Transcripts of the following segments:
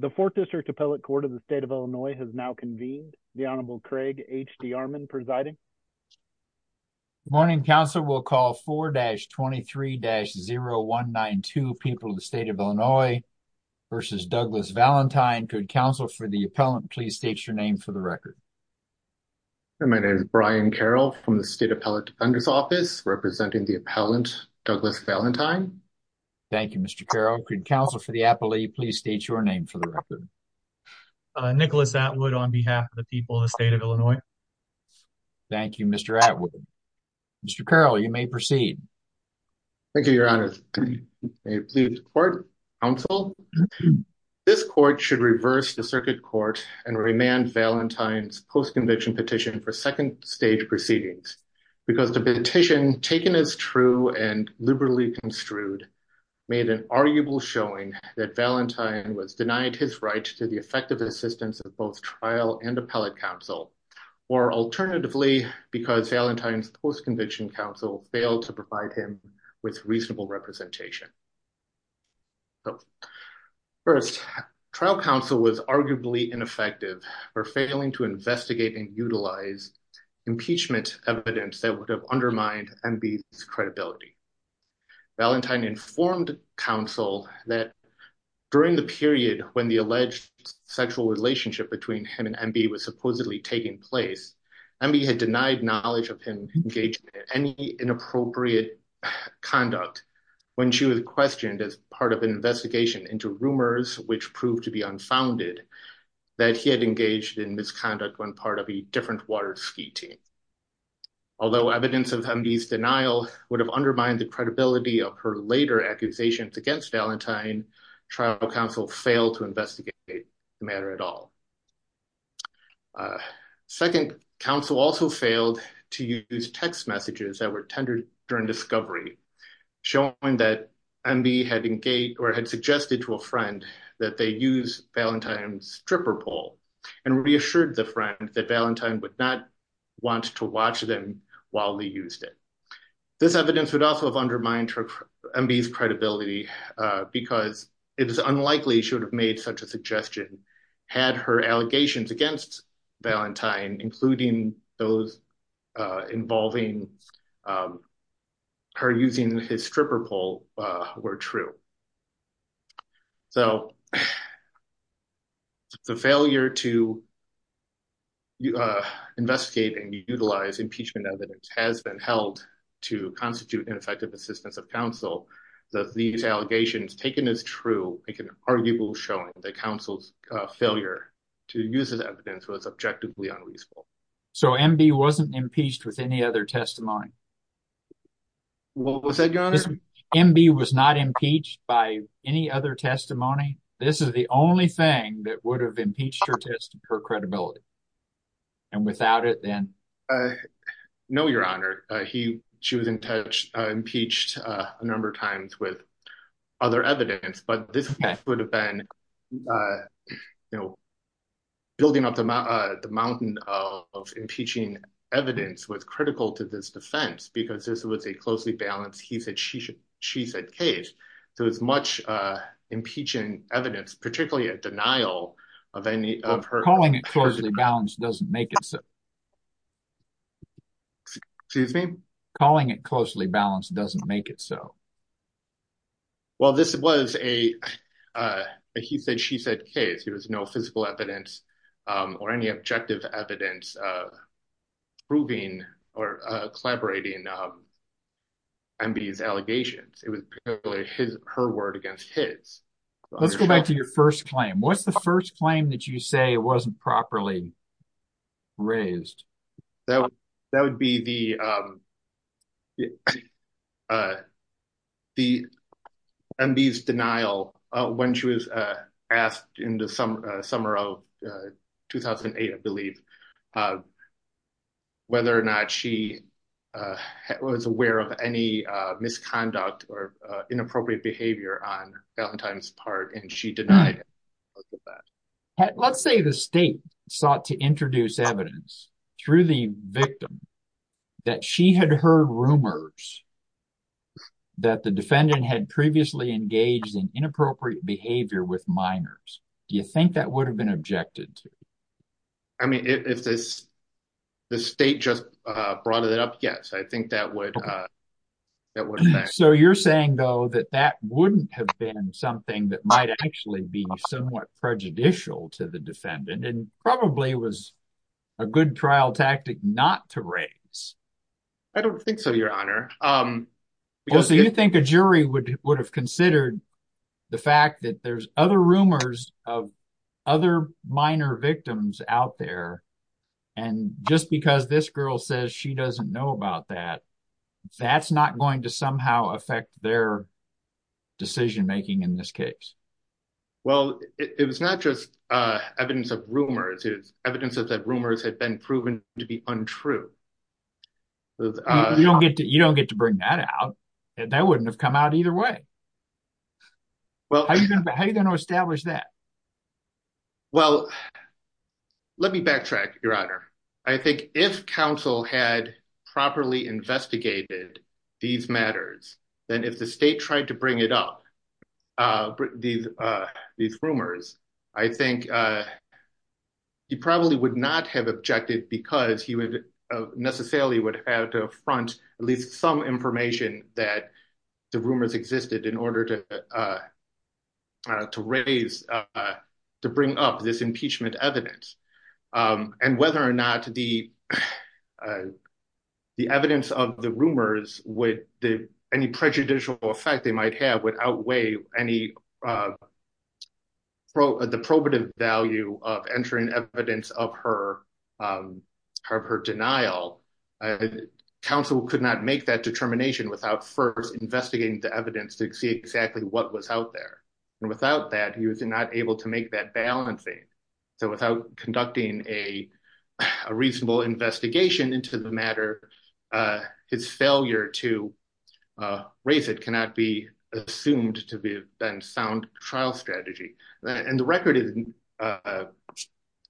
The 4th District Appellate Court of the State of Illinois has now convened. The Honorable Craig H. D. Armon presiding. Good morning, counsel. We'll call 4-23-0192, People of the State of Illinois v. Douglas Valentine. Could counsel for the appellant please state your name for the record? My name is Brian Carroll from the State Appellate Defender's Office, representing the appellant Douglas Valentine. Thank you, Mr. Carroll. Could counsel for the appellate please state your name for the record? Nicholas Atwood on behalf of the people of the State of Illinois. Thank you, Mr. Atwood. Mr. Carroll, you may proceed. Thank you, Your Honor. May it please the court, counsel, this court should reverse the circuit court and remand Valentine's post-conviction petition for second stage proceedings because the petition, taken as true and liberally construed, made an arguable showing that Valentine was denied his right to the effective assistance of both trial and appellate counsel, or alternatively, because Valentine's post-conviction counsel failed to provide him with reasonable representation. First, trial counsel was arguably ineffective for failing to investigate and utilize impeachment evidence that would have undermined M.B.'s credibility. Valentine informed counsel that during the period when the alleged sexual relationship between him and M.B. was supposedly taking place, M.B. had denied knowledge of him engaged in any inappropriate conduct when she was questioned as part of an investigation into rumors which proved to be unfounded that he had engaged in misconduct when part of a different water ski team. Although evidence of M.B.'s denial would have undermined the credibility of her later accusations against Valentine, trial counsel failed to investigate the matter at all. Second, counsel also failed to use text messages that were tendered during discovery, showing that M.B. had engaged or had suggested to a friend that they use Valentine's stripper pole and reassured the friend that Valentine would not want to watch them while they used it. This evidence would also have undermined M.B.'s credibility because it is unlikely she would have made such a suggestion had her allegations against Valentine, including those involving her using his stripper pole, were true. So, the failure to investigate and utilize impeachment evidence has been held to constitute ineffective assistance of counsel, that these allegations taken as true make an arguable showing that counsel's failure to use this evidence was objectively unreasonable. So M.B. wasn't impeached with any other testimony? What was that, your honor? M.B. was not impeached by any other testimony? This is the only thing that would have impeached her for credibility. And without it, then? No, your honor. She was impeached a number of times with other evidence. But this would have been, you know, building up the mountain of impeaching evidence was a closely balanced, he said, she said case. So, as much impeaching evidence, particularly a denial of any of her- Calling it closely balanced doesn't make it so. Excuse me? Calling it closely balanced doesn't make it so. Well, this was a he said, she said case. There was no physical evidence or any objective evidence proving or collaborating M.B.'s allegations. It was her word against his. Let's go back to your first claim. What's the first claim that you say wasn't properly raised? That would be the, M.B.'s denial when she was asked in the summer of 2008, I believe, whether or not she was aware of any misconduct or inappropriate behavior on Valentine's part. And she denied that. Let's say the state sought to introduce evidence through the victim that she had heard rumors that the defendant had previously engaged in inappropriate behavior with minors. Do you think that would have been objected to? I mean, if this, the state just brought it up, yes, I think that would, that would affect. So you're saying, though, that that wouldn't have been something that might actually be somewhat prejudicial to the defendant and probably was a good trial tactic not to raise? I don't think so, your honor. Because do you think a jury would have considered the fact that there's other rumors of other minor victims out there? And just because this girl says she doesn't know about that, that's not going to somehow affect their decision making in this case? Well, it was not just evidence of rumors. It's evidence that rumors had been proven to be untrue. You don't get to, you don't get to bring that out. And that wouldn't have come out either way. Well, how are you going to establish that? Well, let me backtrack, your honor. I think if counsel had properly investigated these matters, then if the state tried to bring it up, these rumors, I think he probably would not have objected because he would necessarily would have to front at least some information that the rumors existed in order to raise, to bring up this impeachment evidence. And whether or not the evidence of the rumors would, any prejudicial effect they might have would outweigh any, the probative value of entering evidence of her denial. And counsel could not make that determination without first investigating the evidence to see exactly what was out there. And without that, he was not able to make that balancing. So without conducting a reasonable investigation into the matter, his failure to raise it cannot be assumed to be a sound trial strategy. And the record is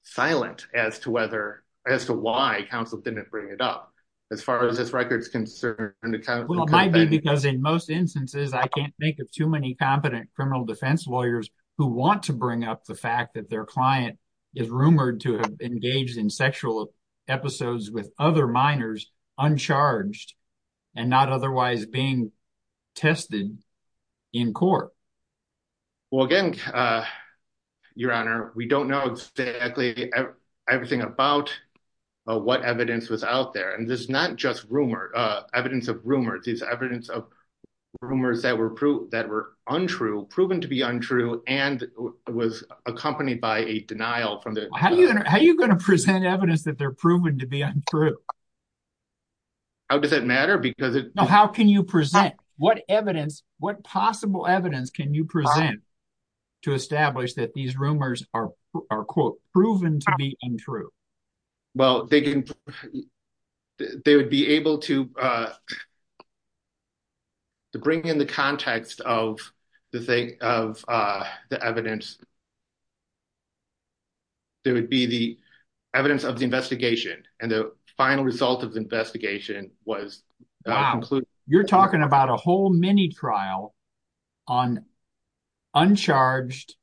silent as to whether, as to why counsel didn't bring it up. As far as this record is concerned, it might be because in most instances, I can't think of too many competent criminal defense lawyers who want to bring up the fact that their client is rumored to have engaged in sexual episodes with other minors, uncharged and not otherwise being tested in court. Well, again, Your Honor, we don't know exactly everything about what evidence was out there. And this is not just rumor, evidence of rumors. It's evidence of rumors that were proven to be untrue and was accompanied by a denial. How are you going to present evidence that they're proven to be untrue? How does that matter? How can you present? What evidence, what possible evidence can you present to establish that these rumors are, quote, proven to be untrue? Well, they would be able to bring in the context of the evidence. There would be the evidence of the investigation, and the final result of the investigation was concluded. You're talking about a whole mini trial on uncharged,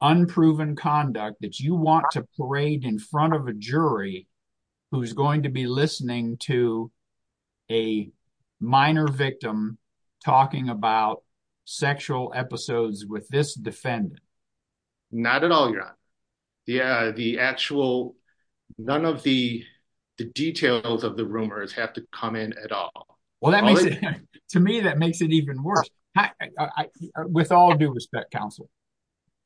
unproven conduct that you want to parade in front of a jury who's going to be listening to a minor victim talking about sexual episodes with this defendant. Not at all, Your Honor. Yeah, the actual, none of the details of the rumors have to come in at all. Well, to me, that makes it even worse. With all due respect, counsel,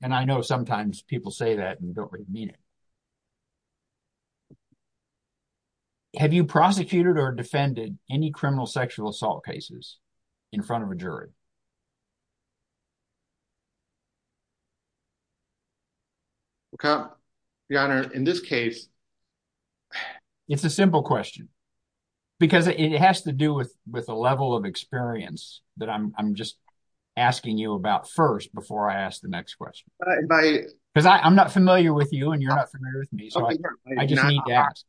and I know sometimes people say that and don't really mean it. Have you prosecuted or defended any criminal sexual assault cases in front of a jury? Your Honor, in this case... It's a simple question, because it has to do with a level of experience that I'm just asking you about first before I ask the next question. Because I'm not familiar with you, and you're not familiar with me, so I just need to ask.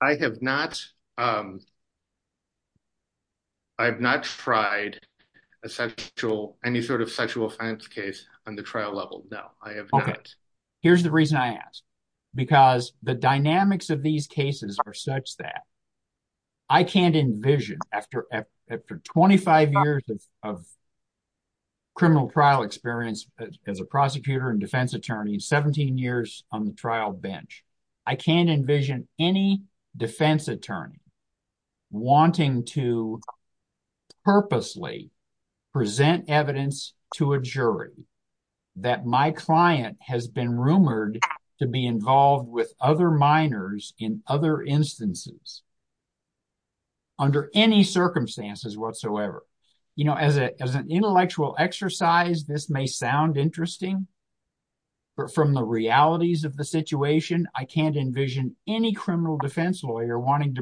I have not tried any sort of sexual offense case on the trial level, no, I have not. Here's the reason I ask, because the dynamics of these cases are such that I can't envision, after 25 years of criminal trial experience as a prosecutor and defense attorney, 17 years on the trial bench, I can't envision any defense attorney wanting to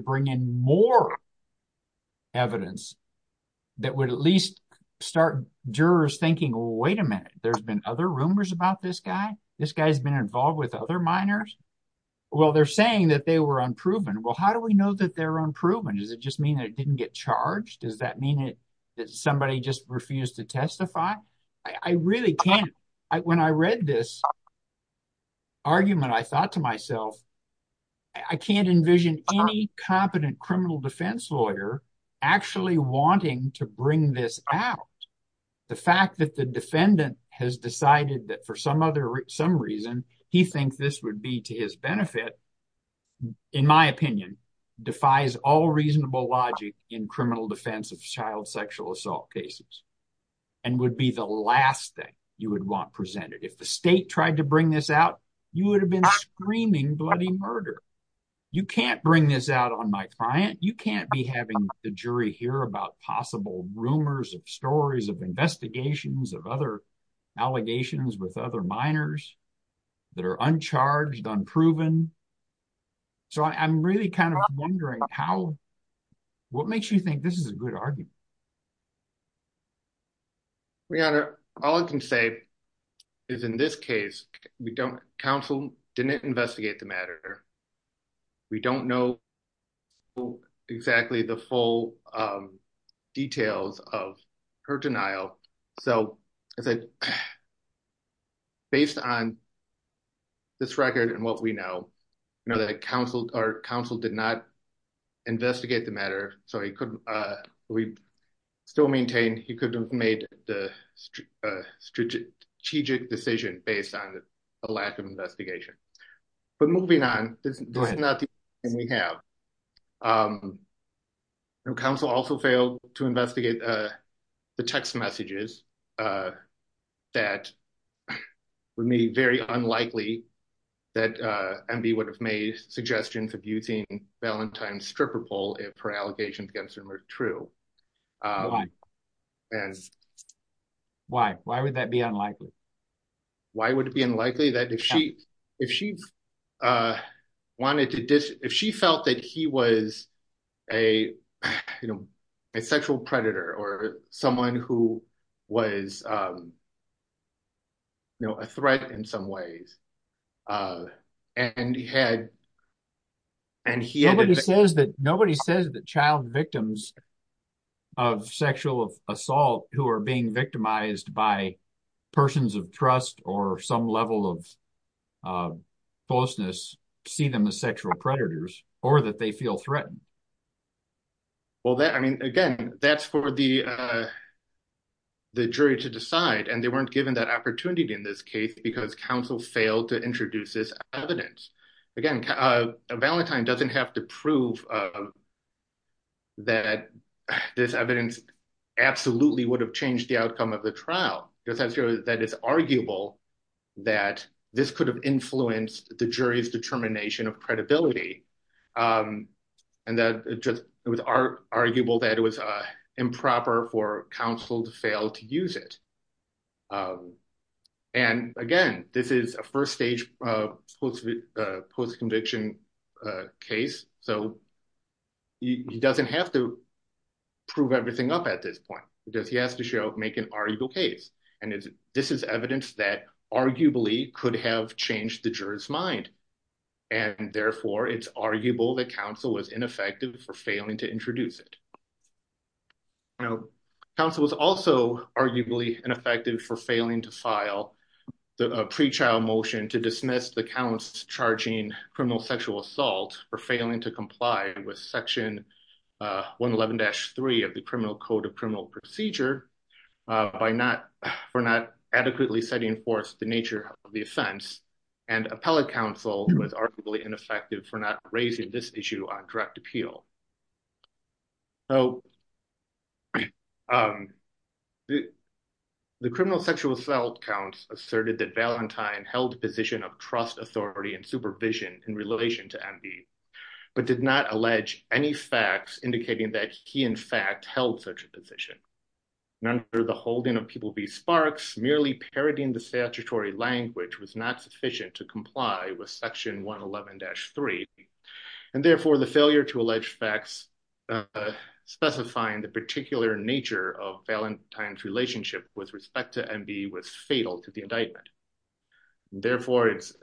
bring in more evidence that would at least start jurors thinking, wait a minute, there's been other rumors about this guy? This guy's been involved with other minors? Well, they're saying that they were unproven. Well, how do we know that they're unproven? Does it just mean that it didn't get charged? Does that mean that somebody just refused to testify? I really can't. When I read this argument, I thought to myself, I can't envision any competent criminal defense lawyer actually wanting to bring this out. The fact that the defendant has decided that for some reason, he thinks this would be to his benefit, in my opinion, defies all reasonable logic in criminal defense of child sexual assault cases, and would be the last thing you would want presented. If the state tried to bring this out, you would have been screaming bloody murder. You can't bring this out on my client, you can't be having the jury hear about possible rumors of stories of investigations of other allegations with other minors that are uncharged, unproven. I'm really wondering what makes you think this is a good argument? All I can say is in this case, counsel didn't investigate the matter. We don't know exactly the full details of her denial. Based on this record and what we know, counsel did not investigate the matter. He could have made the strategic decision based on a lack of investigation. Moving on, this is not the only thing we have. Counsel also failed to investigate the text messages that were made very unlikely that Enby would have made suggestions of using Valentine's stripper pole if her allegations were true. Why would that be unlikely? If she felt that he was a sexual predator or someone who was a threat in some ways. Nobody says that child victims of sexual assault who are being victimized by persons of trust or some level of falseness see them as sexual predators or that they feel weren't given that opportunity in this case because counsel failed to introduce this evidence. Valentine doesn't have to prove that this evidence absolutely would have changed the outcome of the trial. It is arguable that this could have influenced the jury's determination of credibility and that it was arguable that it was improper for counsel to fail to use it. Again, this is a first stage post-conviction case. He doesn't have to prove everything up at this point because he has to make an arguable case. This is evidence that arguably could have changed the jury's mind and therefore it's arguable that counsel was ineffective for failing to introduce it. Counsel was also arguably ineffective for failing to file the pre-trial motion to dismiss the counts charging criminal sexual assault for failing to comply with section 111-3 of the Criminal Code of Criminal Procedure by not adequately setting forth the nature of the offense and appellate counsel was arguably ineffective for not raising this issue on direct appeal. The criminal sexual assault counts asserted that Valentine held the position of trust, authority, and supervision in relation to M.D. but did not allege any facts indicating that he in fact held such a position. Under the holding of People v. Sparks, merely parodying the statutory language was not sufficient to comply with section 111-3 and therefore the failure to allege facts specifying the particular nature of Valentine's relationship with respect to M.D. was fatal to the indictment. Therefore, it's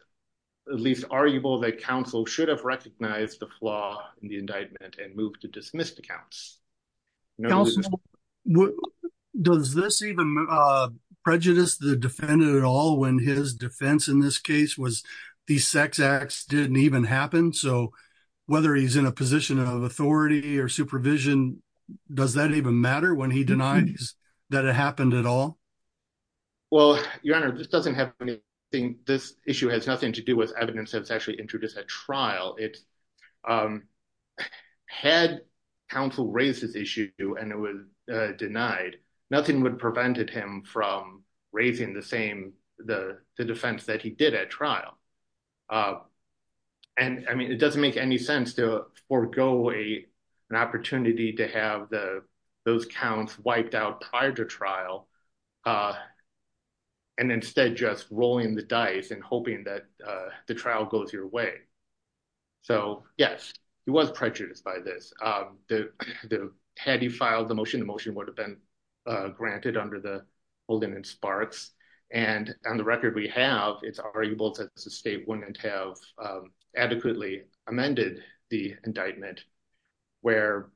at least arguable that counsel should have recognized the flaw in the indictment and moved to dismiss the counts. Does this even prejudice the defendant at all when his defense in this case was the sex acts didn't even happen so whether he's in a position of authority or supervision does that even matter when he denies that it happened at all? Well, your honor, this doesn't have anything this issue has nothing to do with evidence that's introduced at trial. Had counsel raised this issue and it was denied, nothing would have prevented him from raising the defense that he did at trial. It doesn't make any sense to forego an opportunity to have those counts wiped out prior to trial and instead just rolling the dice and hoping that the trial goes your way. So yes, he was prejudiced by this. Had he filed the motion, the motion would have been granted under the holding in Sparks and on the record we have it's arguable that the state wouldn't have adequately amended the indictment where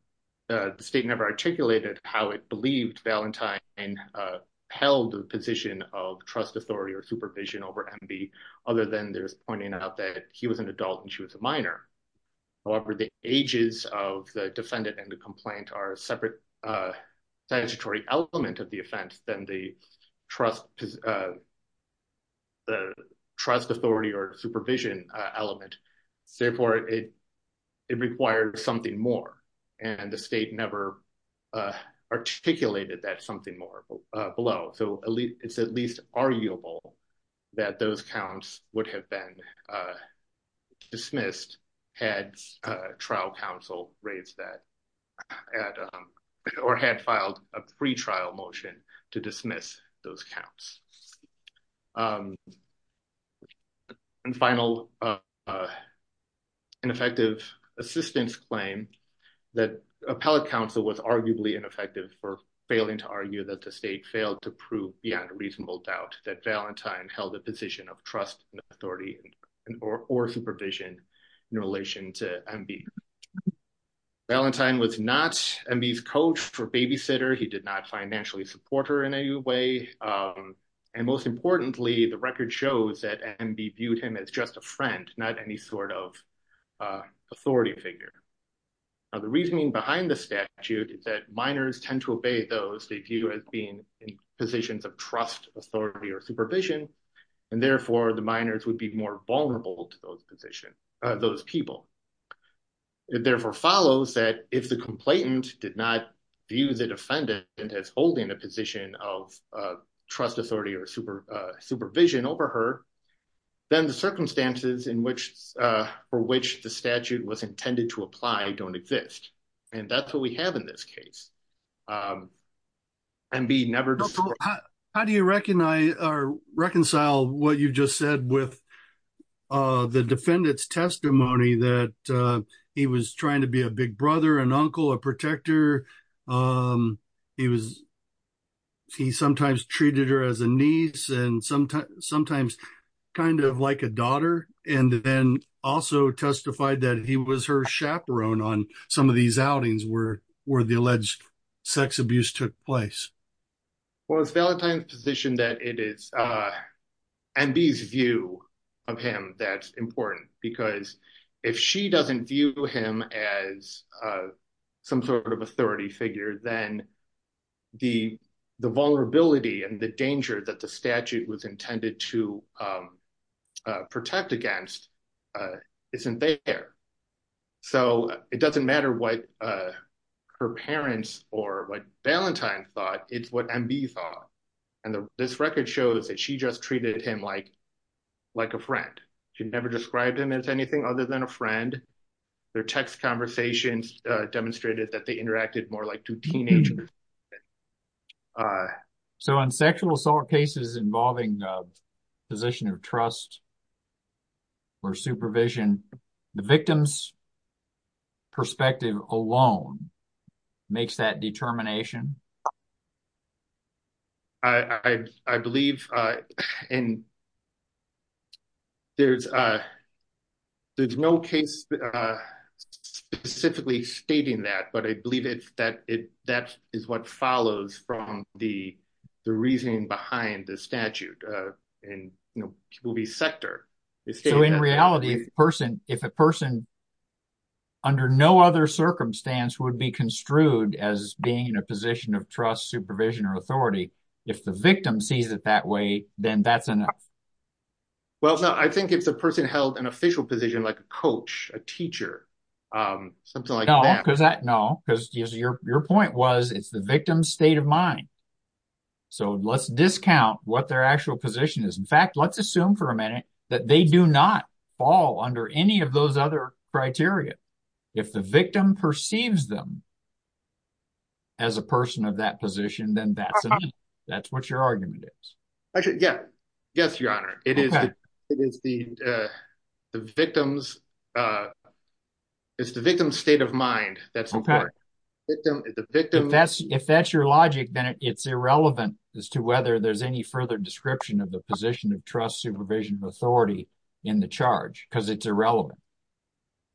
the state never articulated how it believed Valentine held the position of trust authority or supervision over M.B. other than there's pointing out that he was an adult and she was a minor. However, the ages of the defendant and the complaint are a separate statutory element of the offense than the trust authority or supervision element. Therefore, it requires something more and the state never articulated that something more below. So at least it's at least arguable that those counts would have been dismissed had trial counsel raised that at or had filed a pretrial motion to dismiss those counts. And final ineffective assistance claim that appellate counsel was arguably ineffective for failing to argue that the state failed to prove beyond a reasonable doubt that Valentine held a position of trust and authority or supervision in relation to M.B. Valentine was not M.B.'s coach or babysitter. He did not financially support her in any way and most importantly the record shows that M.B. viewed him as just a friend not any sort of authority figure. Now the reasoning behind the statute is that minors tend to obey those they view as being in positions of trust authority or supervision and therefore the minors would be more vulnerable to those position those people. It therefore follows that if the complainant did not view the defendant as holding a position of trust authority or supervision over her then the circumstances for which the statute was intended to apply don't exist and that's what we have in this case. M.B. never how do you recognize or reconcile what you just said with uh the defendant's testimony that uh he was trying to be a big brother an uncle a protector um he was he sometimes treated her as a niece and sometimes sometimes kind of like a daughter and then also testified that he was her chaperone on some of these outings were the alleged sex abuse took place. Well it's Valentine's position that it is uh M.B.'s view of him that's important because if she doesn't view him as uh some sort of authority figure then the the vulnerability and the danger that the statute was intended to um uh protect against isn't there so it doesn't matter what uh her parents or what Valentine thought it's what M.B. thought and this record shows that she just treated him like like a friend she never described him as anything other than a friend their text conversations uh demonstrated that they interacted more like two teenagers uh so on sexual assault cases involving a position of trust or supervision the victim's perspective alone makes that determination I believe uh and there's uh there's no case uh specifically stating that but I believe it that it that is what follows from the the reasoning behind the statute uh and you know it will be sector so in reality if a person if a person under no other circumstance would be construed as being in a position of trust supervision or authority if the victim sees it that way then that's enough well so I think if the person held an official position like a coach a teacher um something like that because that no because your your point was it's the victim's state of mind so let's discount what their actual position is in fact let's assume for a minute that they do not fall under any of those other criteria if the victim perceives them as a person of that position then that's that's what your argument is actually yeah yes your honor it is it is the uh the victim's uh it's the victim's state of mind that's okay if that's your logic then it's irrelevant as to whether there's any further description of the position of trust supervision of authority in the charge because it's irrelevant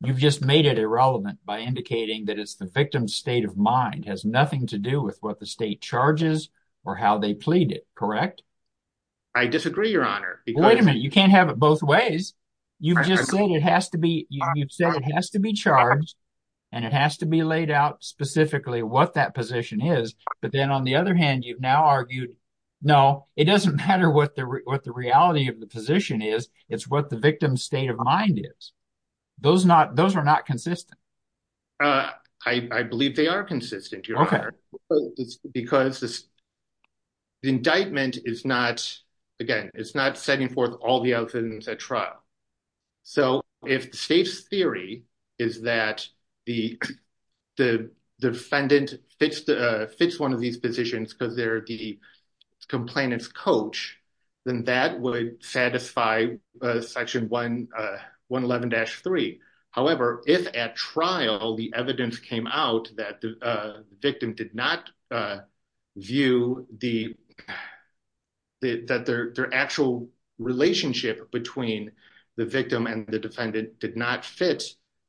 you've just made it irrelevant by indicating that it's the victim's state of mind has nothing to do with what the state charges or how they plead it correct I disagree your honor wait a minute you can't have it both ways you've just said it has to be you've said it has to be charged and it has to be laid out specifically what that position is but then on the other hand you've now argued no it doesn't matter what the what the reality of the position is it's what the victim's state of mind is those not those are not consistent uh I believe they are consistent your honor because this indictment is not again it's not setting forth all the evidence at trial so if the state's theory is that the the defendant fits the fits one of these positions because they're the complainant's coach then that would satisfy section 111-3 however if at trial the evidence came out that the victim did not view the that their actual relationship between the victim and the defendant did not fit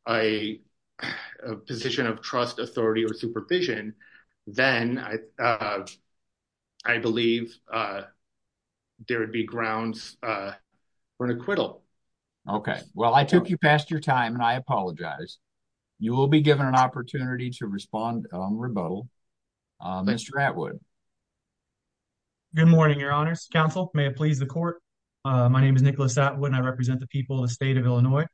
a position of trust authority or supervision then I believe there would be grounds for an acquittal okay well I took you past your time and I apologize you will be given an opportunity to respond on the rebuttal Mr. Atwood good morning your honors counsel may it please the court my name is Nicholas Atwood and I represent the people of the state of Illinois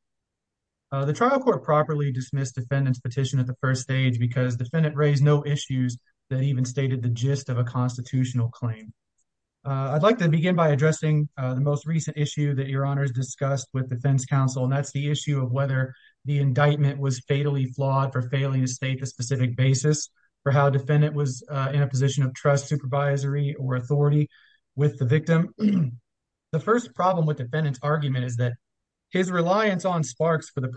the trial court properly dismissed defendant's petition at the first stage because defendant raised no issues that even stated the gist of a constitutional claim I'd like to begin by addressing the most recent issue that your honors discussed with defense counsel and that's the issue of whether the indictment was fatally flawed for failing to state the specific basis for how defendant was in a position of trust supervisory or authority with the victim the first problem with defendant's argument is that his reliance on sparks for the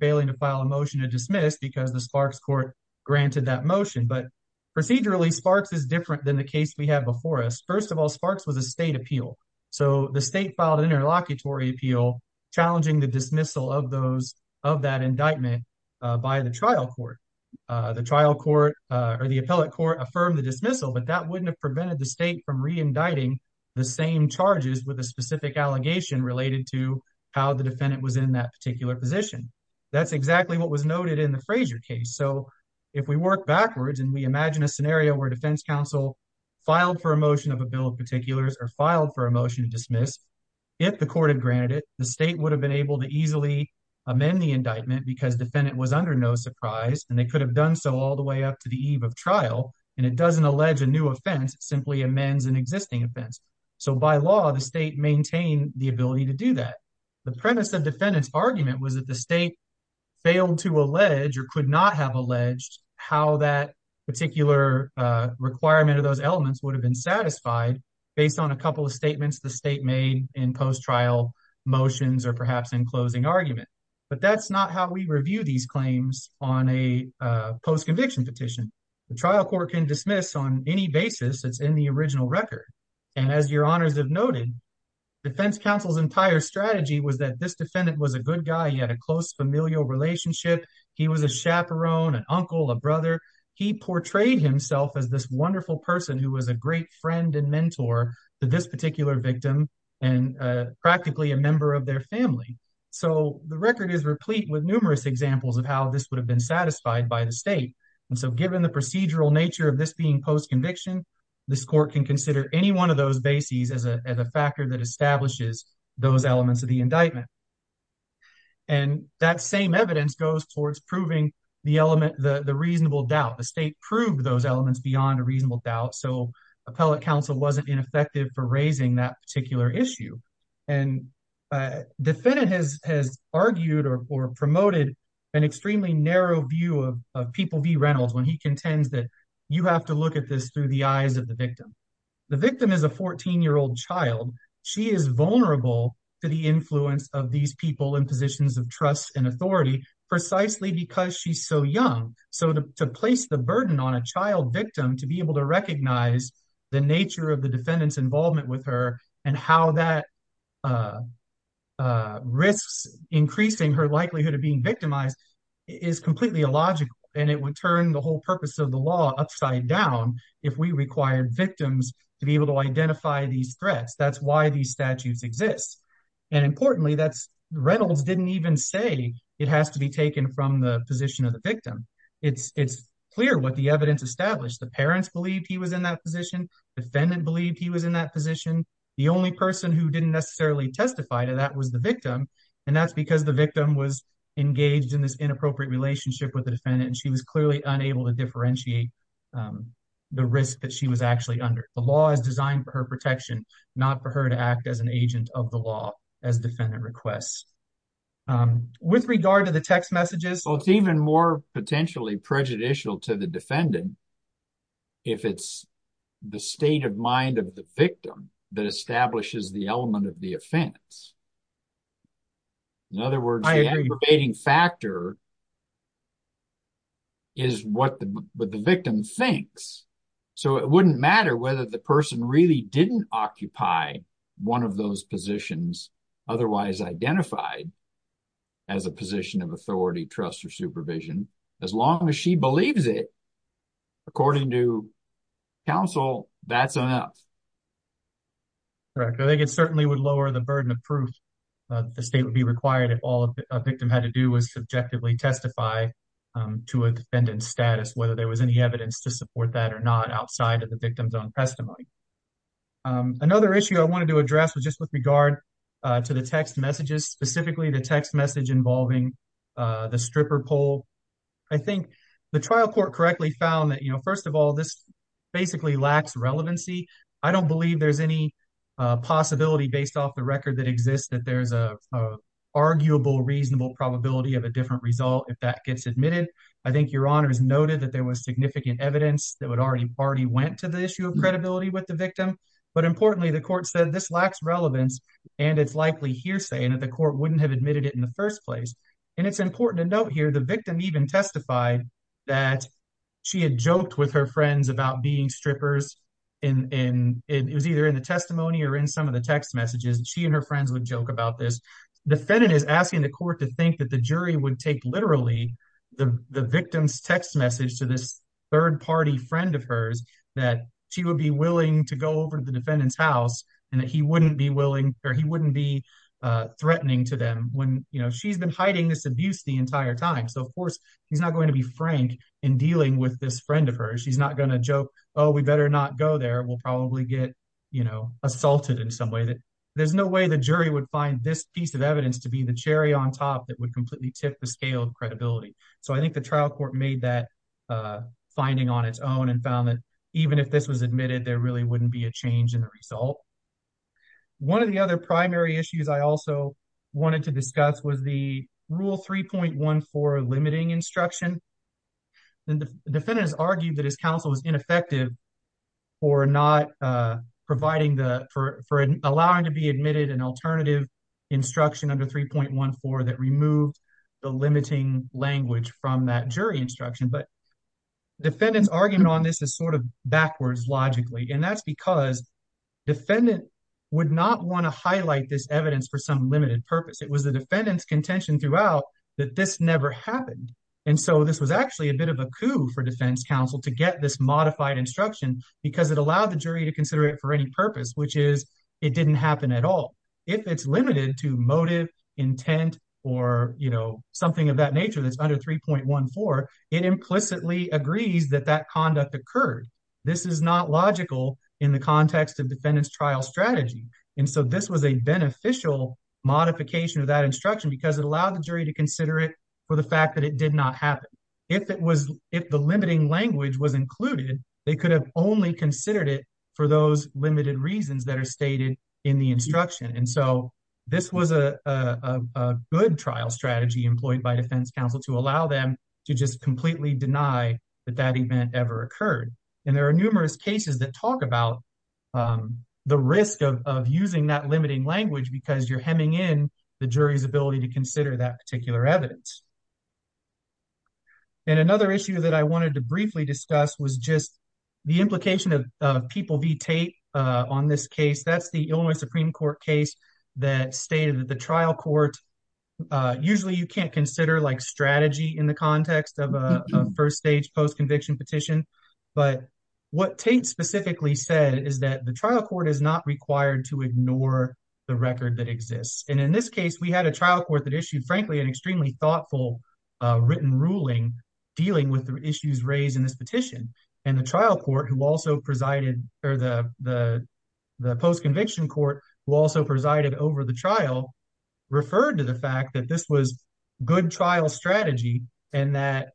failing to file a motion to dismiss because the sparks court granted that motion but procedurally sparks is different than the case we have before us first of all sparks was a state appeal so the state filed an interlocutory appeal challenging the dismissal of those of that indictment by the trial court the trial court or the appellate court affirmed the dismissal but that wouldn't have prevented the state from re-indicting the same charges with a specific allegation related to how the defendant was in that particular position that's exactly what was noted in the Frazier case so if we work backwards and we imagine a scenario where defense counsel filed for a motion of a bill of particulars or filed for a motion to dismiss if the court had granted it the state would have been able to easily amend the indictment because defendant was under no surprise and they could have done so all the way up to the eve of trial and it doesn't allege a new offense it simply amends an existing offense so by law the state maintained the ability to do that the premise of defendant's argument was that the state failed to allege or could not have alleged how that particular uh requirement of those elements would have been satisfied based on a couple of statements the state made in post-trial motions or perhaps in closing argument but that's not how we review these claims on a post-conviction petition the trial court can dismiss on any basis it's in the original record and as your honors have noted defense counsel's entire strategy was that this defendant was a good guy he had a close familial relationship he was a chaperone an uncle a brother he portrayed himself as this wonderful person who was a great friend and mentor to this particular victim and uh practically a member of their family so the record is replete with numerous examples of how this would have been satisfied by the state and so given the procedural nature of this being post-conviction this court can consider any one of those bases as a as a factor that establishes those elements of the indictment and that same evidence goes towards proving the element the the reasonable doubt the state proved those elements beyond a reasonable doubt so appellate counsel wasn't ineffective for raising that particular issue and uh defendant has has argued or promoted an extremely narrow view of people v reynolds when he contends that you have to look at this through the eyes of the victim the victim is a 14 year old child she is vulnerable to the influence of these people in positions of trust and authority precisely because she's so young so to place the burden on a child victim to be able to recognize the nature of the defendant's involvement with her and how that uh uh risks increasing her likelihood of being victimized is completely illogical and it would turn the whole purpose of the law upside down if we required victims to be able to identify these threats that's why these statutes exist and importantly that's reynolds didn't even say it has to be taken from the position of the victim it's it's clear what the evidence established the parents believed he was in that position defendant believed he was in that position the only person who didn't necessarily testify to that was the victim and that's because the victim was engaged in this inappropriate relationship with the defendant and she was clearly unable to differentiate um the risk that she was actually under the law is designed for her protection not for her to act as an agent of the law as defendant requests um with regard to the text messages so it's even more potentially prejudicial to the defendant if it's the state of mind of the victim that establishes the element of the offense in other words the aggravating factor is what the victim thinks so it wouldn't matter whether the person really didn't occupy one of those positions otherwise identified as a position of authority trust or supervision as long as she believes it according to counsel that's enough correct i think it certainly would lower the burden of proof uh the state would be required if all a victim had to do was subjectively testify um to a defendant's status whether there was any evidence to support that or not outside of the victim's own testimony um another issue i wanted to address was just with i think the trial court correctly found that you know first of all this basically lacks relevancy i don't believe there's any uh possibility based off the record that exists that there's a arguable reasonable probability of a different result if that gets admitted i think your honor has noted that there was significant evidence that would already party went to the issue of credibility with the victim but importantly the court said this lacks relevance and it's likely hearsay and that the court wouldn't have admitted it in the first place and it's important to note here the victim even testified that she had joked with her friends about being strippers in in it was either in the testimony or in some of the text messages she and her friends would joke about this defendant is asking the court to think that the jury would take literally the the victim's text message to this third party friend of hers that she would be willing to go over to the defendant's house and that he wouldn't be willing or he wouldn't be uh threatening to them when you know she's been hiding this abuse the entire time so of course he's not going to be frank in dealing with this friend of hers she's not going to joke oh we better not go there we'll probably get you know assaulted in some way that there's no way the jury would find this piece of evidence to be the cherry on top that would completely tip the scale of credibility so i think the trial court made that uh finding on its own and found that even if this was admitted there really wouldn't be a change in the result one of the other primary issues i also wanted to discuss was the rule 3.14 limiting instruction and the defendant has argued that his counsel was ineffective for not uh providing the for for allowing to be admitted an alternative instruction under 3.14 that removed the limiting language from that jury instruction but defendant's argument on this is sort of backwards logically and that's because defendant would not want to highlight this evidence for some limited purpose it was the defendant's contention throughout that this never happened and so this was actually a bit of a coup for defense counsel to get this modified instruction because it allowed the jury to consider it for any purpose which is it didn't happen at all if it's limited to motive intent or you know something of that nature that's under 3.14 it implicitly agrees that that conduct occurred this is not logical in the context of defendant's trial strategy and so this was a beneficial modification of that instruction because it allowed the jury to consider it for the fact that it did not happen if it was if the limiting language was included they could have only considered it for those limited reasons that are stated in the instruction and so this was a a good trial strategy employed by defense counsel to allow them to just completely deny that that event ever occurred and there are numerous cases that talk about the risk of using that limiting language because you're hemming in the jury's ability to consider that particular evidence and another issue that I wanted to briefly discuss was just the implication of people v tate on this case that's the Illinois Supreme Court case that stated that the trial court usually you can't consider like strategy in the context of a first stage post-conviction petition but what tate specifically said is that the trial court is not required to ignore the record that exists and in this case we had a trial court that issued frankly an extremely thoughtful written ruling dealing with the issues raised in this presided over the trial referred to the fact that this was good trial strategy and that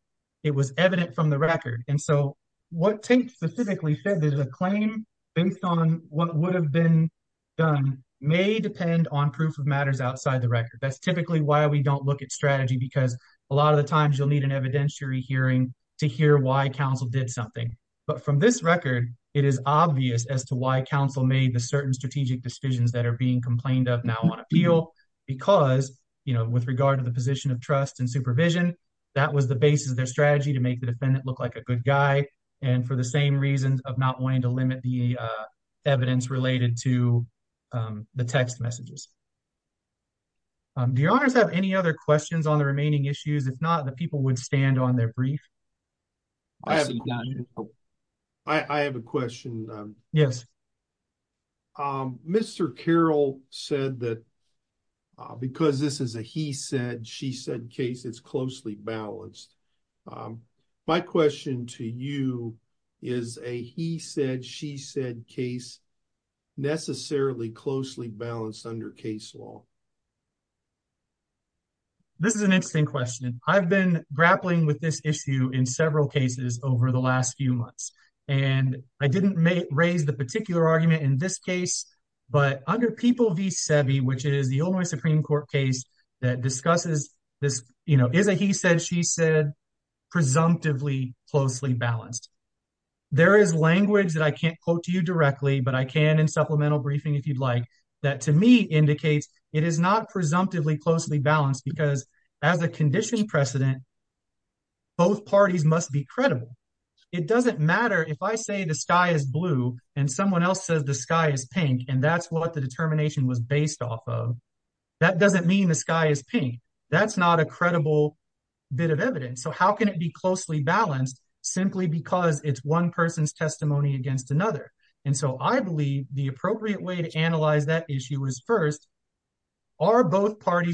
it was evident from the record and so what tate specifically said there's a claim based on what would have been done may depend on proof of matters outside the record that's typically why we don't look at strategy because a lot of the times you'll need an evidentiary hearing to hear why counsel did something but from this record it is obvious as to why counsel made the strategic decisions that are being complained of now on appeal because you know with regard to the position of trust and supervision that was the basis of their strategy to make the defendant look like a good guy and for the same reasons of not wanting to limit the evidence related to the text messages do your honors have any other questions on the remaining issues if not the Mr. Carroll said that because this is a he said she said case it's closely balanced my question to you is a he said she said case necessarily closely balanced under case law this is an interesting question I've been grappling with this issue in several cases over the last few months and I didn't raise the particular argument in this case but under people v seve which is the Illinois Supreme Court case that discusses this you know is a he said she said presumptively closely balanced there is language that I can't quote to you directly but I can in supplemental briefing if you'd like that to me indicates it is not presumptively closely balanced because as a condition precedent both parties must be it doesn't matter if I say the sky is blue and someone else says the sky is pink and that's what the determination was based off of that doesn't mean the sky is pink that's not a credible bit of evidence so how can it be closely balanced simply because it's one person's testimony against another and so I believe the appropriate way to analyze that issue is first are both closely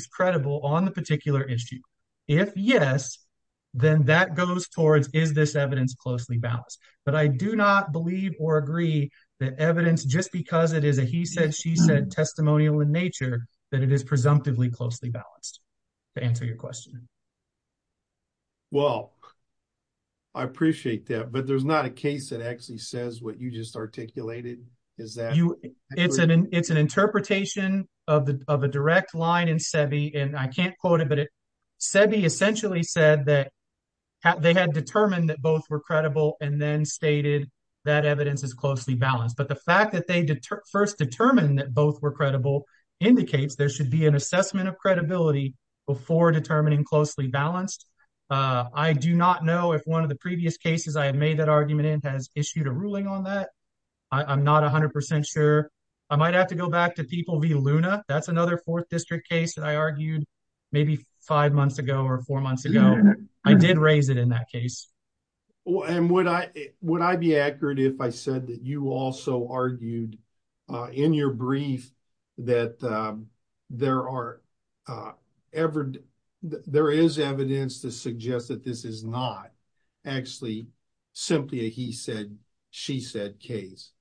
balanced but I do not believe or agree that evidence just because it is a he said she said testimonial in nature that it is presumptively closely balanced to answer your question well I appreciate that but there's not a case that actually says what you just articulated is that you it's an it's an interpretation of the of a direct line in seve and I can't quote it but sebi essentially said that they had determined that both were credible and then stated that evidence is closely balanced but the fact that they did first determine that both were credible indicates there should be an assessment of credibility before determining closely balanced I do not know if one of the previous cases I have made that argument in has issued a ruling on that I'm not 100 sure I might have to go back to people via luna that's another fourth district case that maybe five months ago or four months ago I did raise it in that case and would I would I be accurate if I said that you also argued in your brief that there are ever there is evidence to suggest that this is not actually simply a he said she said case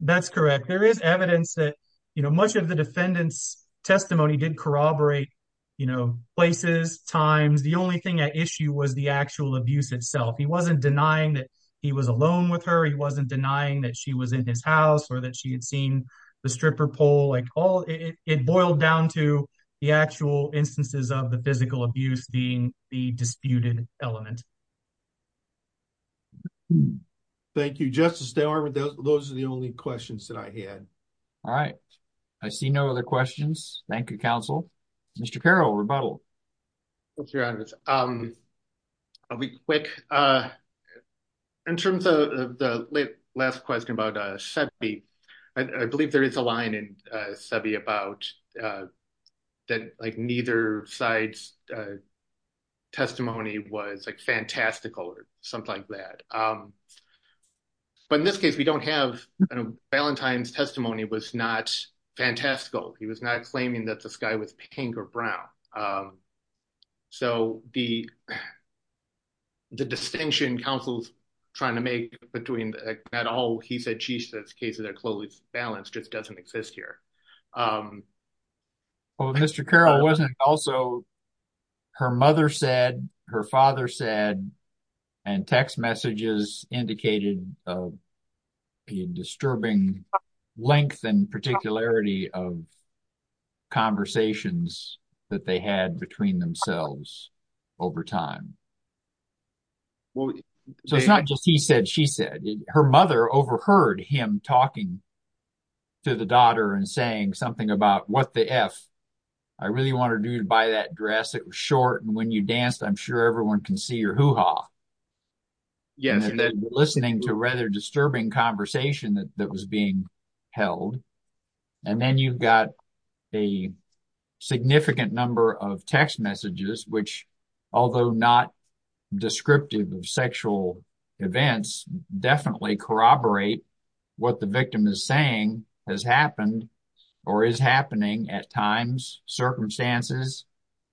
that's correct there is evidence that much of the defendant's testimony did corroborate you know places times the only thing at issue was the actual abuse itself he wasn't denying that he was alone with her he wasn't denying that she was in his house or that she had seen the stripper pole like all it boiled down to the actual instances of the physical abuse being the disputed element thank you justice they are those are the only questions that I had all right I see no other questions thank you counsel Mr. Carroll rebuttal I'll be quick uh in terms of the last question about uh I believe there is a line in uh about uh that like neither side's uh testimony was like fantastical or something like that um but in this case we don't have a valentine's testimony was not fantastical he was not claiming that the sky was pink or brown um so the the distinction counsel's trying to make between at all he said she says cases are balanced just doesn't exist here um well Mr. Carroll wasn't also her mother said her father said and text messages indicated a disturbing length and particularity of conversations that they had between themselves over time well so it's not just he said she said her mother overheard him talking to the daughter and saying something about what the f I really want to do to buy that dress it was short and when you danced I'm sure everyone can see your hoo-ha yes and then listening to rather disturbing conversation that was being held and then you've got a significant number of text messages which although not descriptive of events definitely corroborate what the victim is saying has happened or is happening at times circumstances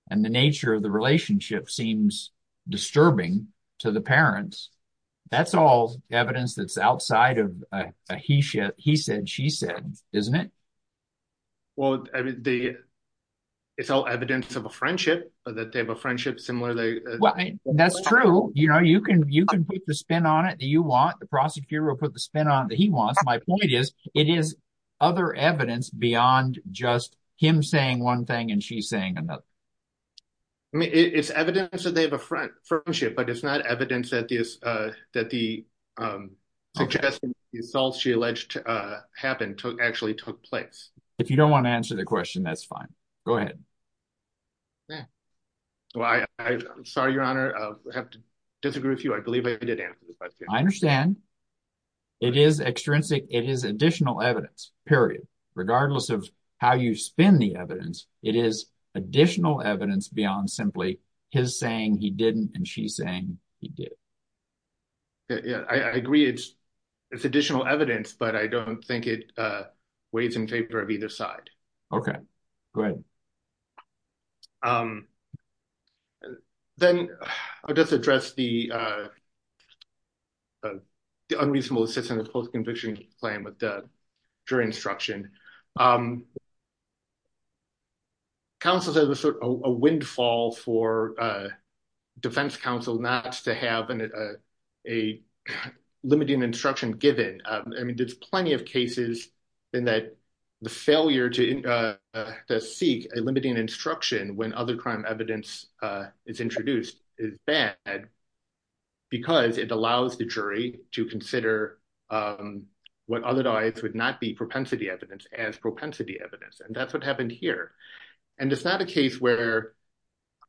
and the nature of the relationship seems disturbing to the parents that's all evidence that's outside of a he said he said she said isn't it well the it's all evidence of a spin on it that you want the prosecutor will put the spin on it that he wants my point is it is other evidence beyond just him saying one thing and she's saying another I mean it's evidence that they have a front friendship but it's not evidence that this uh that the um suggestion the assault she alleged uh happened took actually took place if you don't want to answer the question that's fine go ahead yeah well I I'm sorry your honor uh have to I understand it is extrinsic it is additional evidence period regardless of how you spin the evidence it is additional evidence beyond simply his saying he didn't and she's saying he did yeah I agree it's it's additional evidence but I don't think it uh in favor of either side okay good um then I'll just address the uh the unreasonable assistance post-conviction claim with the jury instruction um counsels as a sort of a windfall for uh defense counsel not to have an a limiting instruction given um I mean there's plenty of cases in that the failure to uh to seek a limiting instruction when other crime evidence uh is introduced is bad because it allows the jury to consider um what otherwise would not be propensity evidence as propensity evidence and that's what happened here and it's not a case where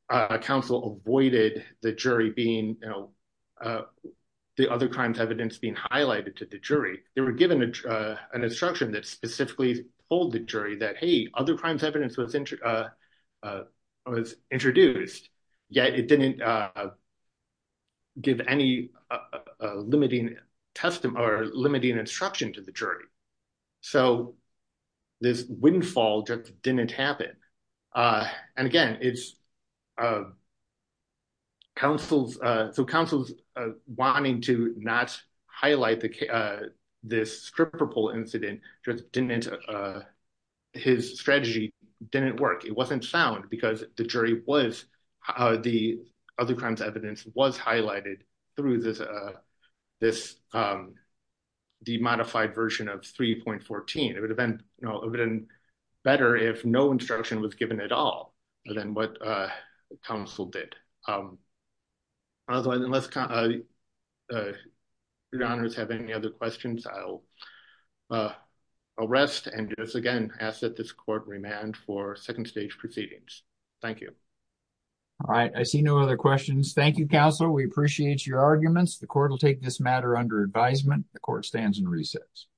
a counsel avoided the jury being you know uh the other crimes evidence being highlighted to the jury they were given an instruction that specifically told the jury that hey other crimes evidence was uh uh was introduced yet it didn't uh give any uh limiting testimony or limiting instruction to the jury so this so counsel's uh wanting to not highlight the uh this stripper pole incident just didn't uh his strategy didn't work it wasn't sound because the jury was uh the other crimes evidence was highlighted through this uh this um the modified version of 3.14 it would have been you know it better if no instruction was given at all than what uh counsel did um otherwise unless your honors have any other questions i'll uh arrest and just again ask that this court remand for second stage proceedings thank you all right i see no other questions thank you counsel we appreciate your arguments the court will take this matter under advisement the court stands and resits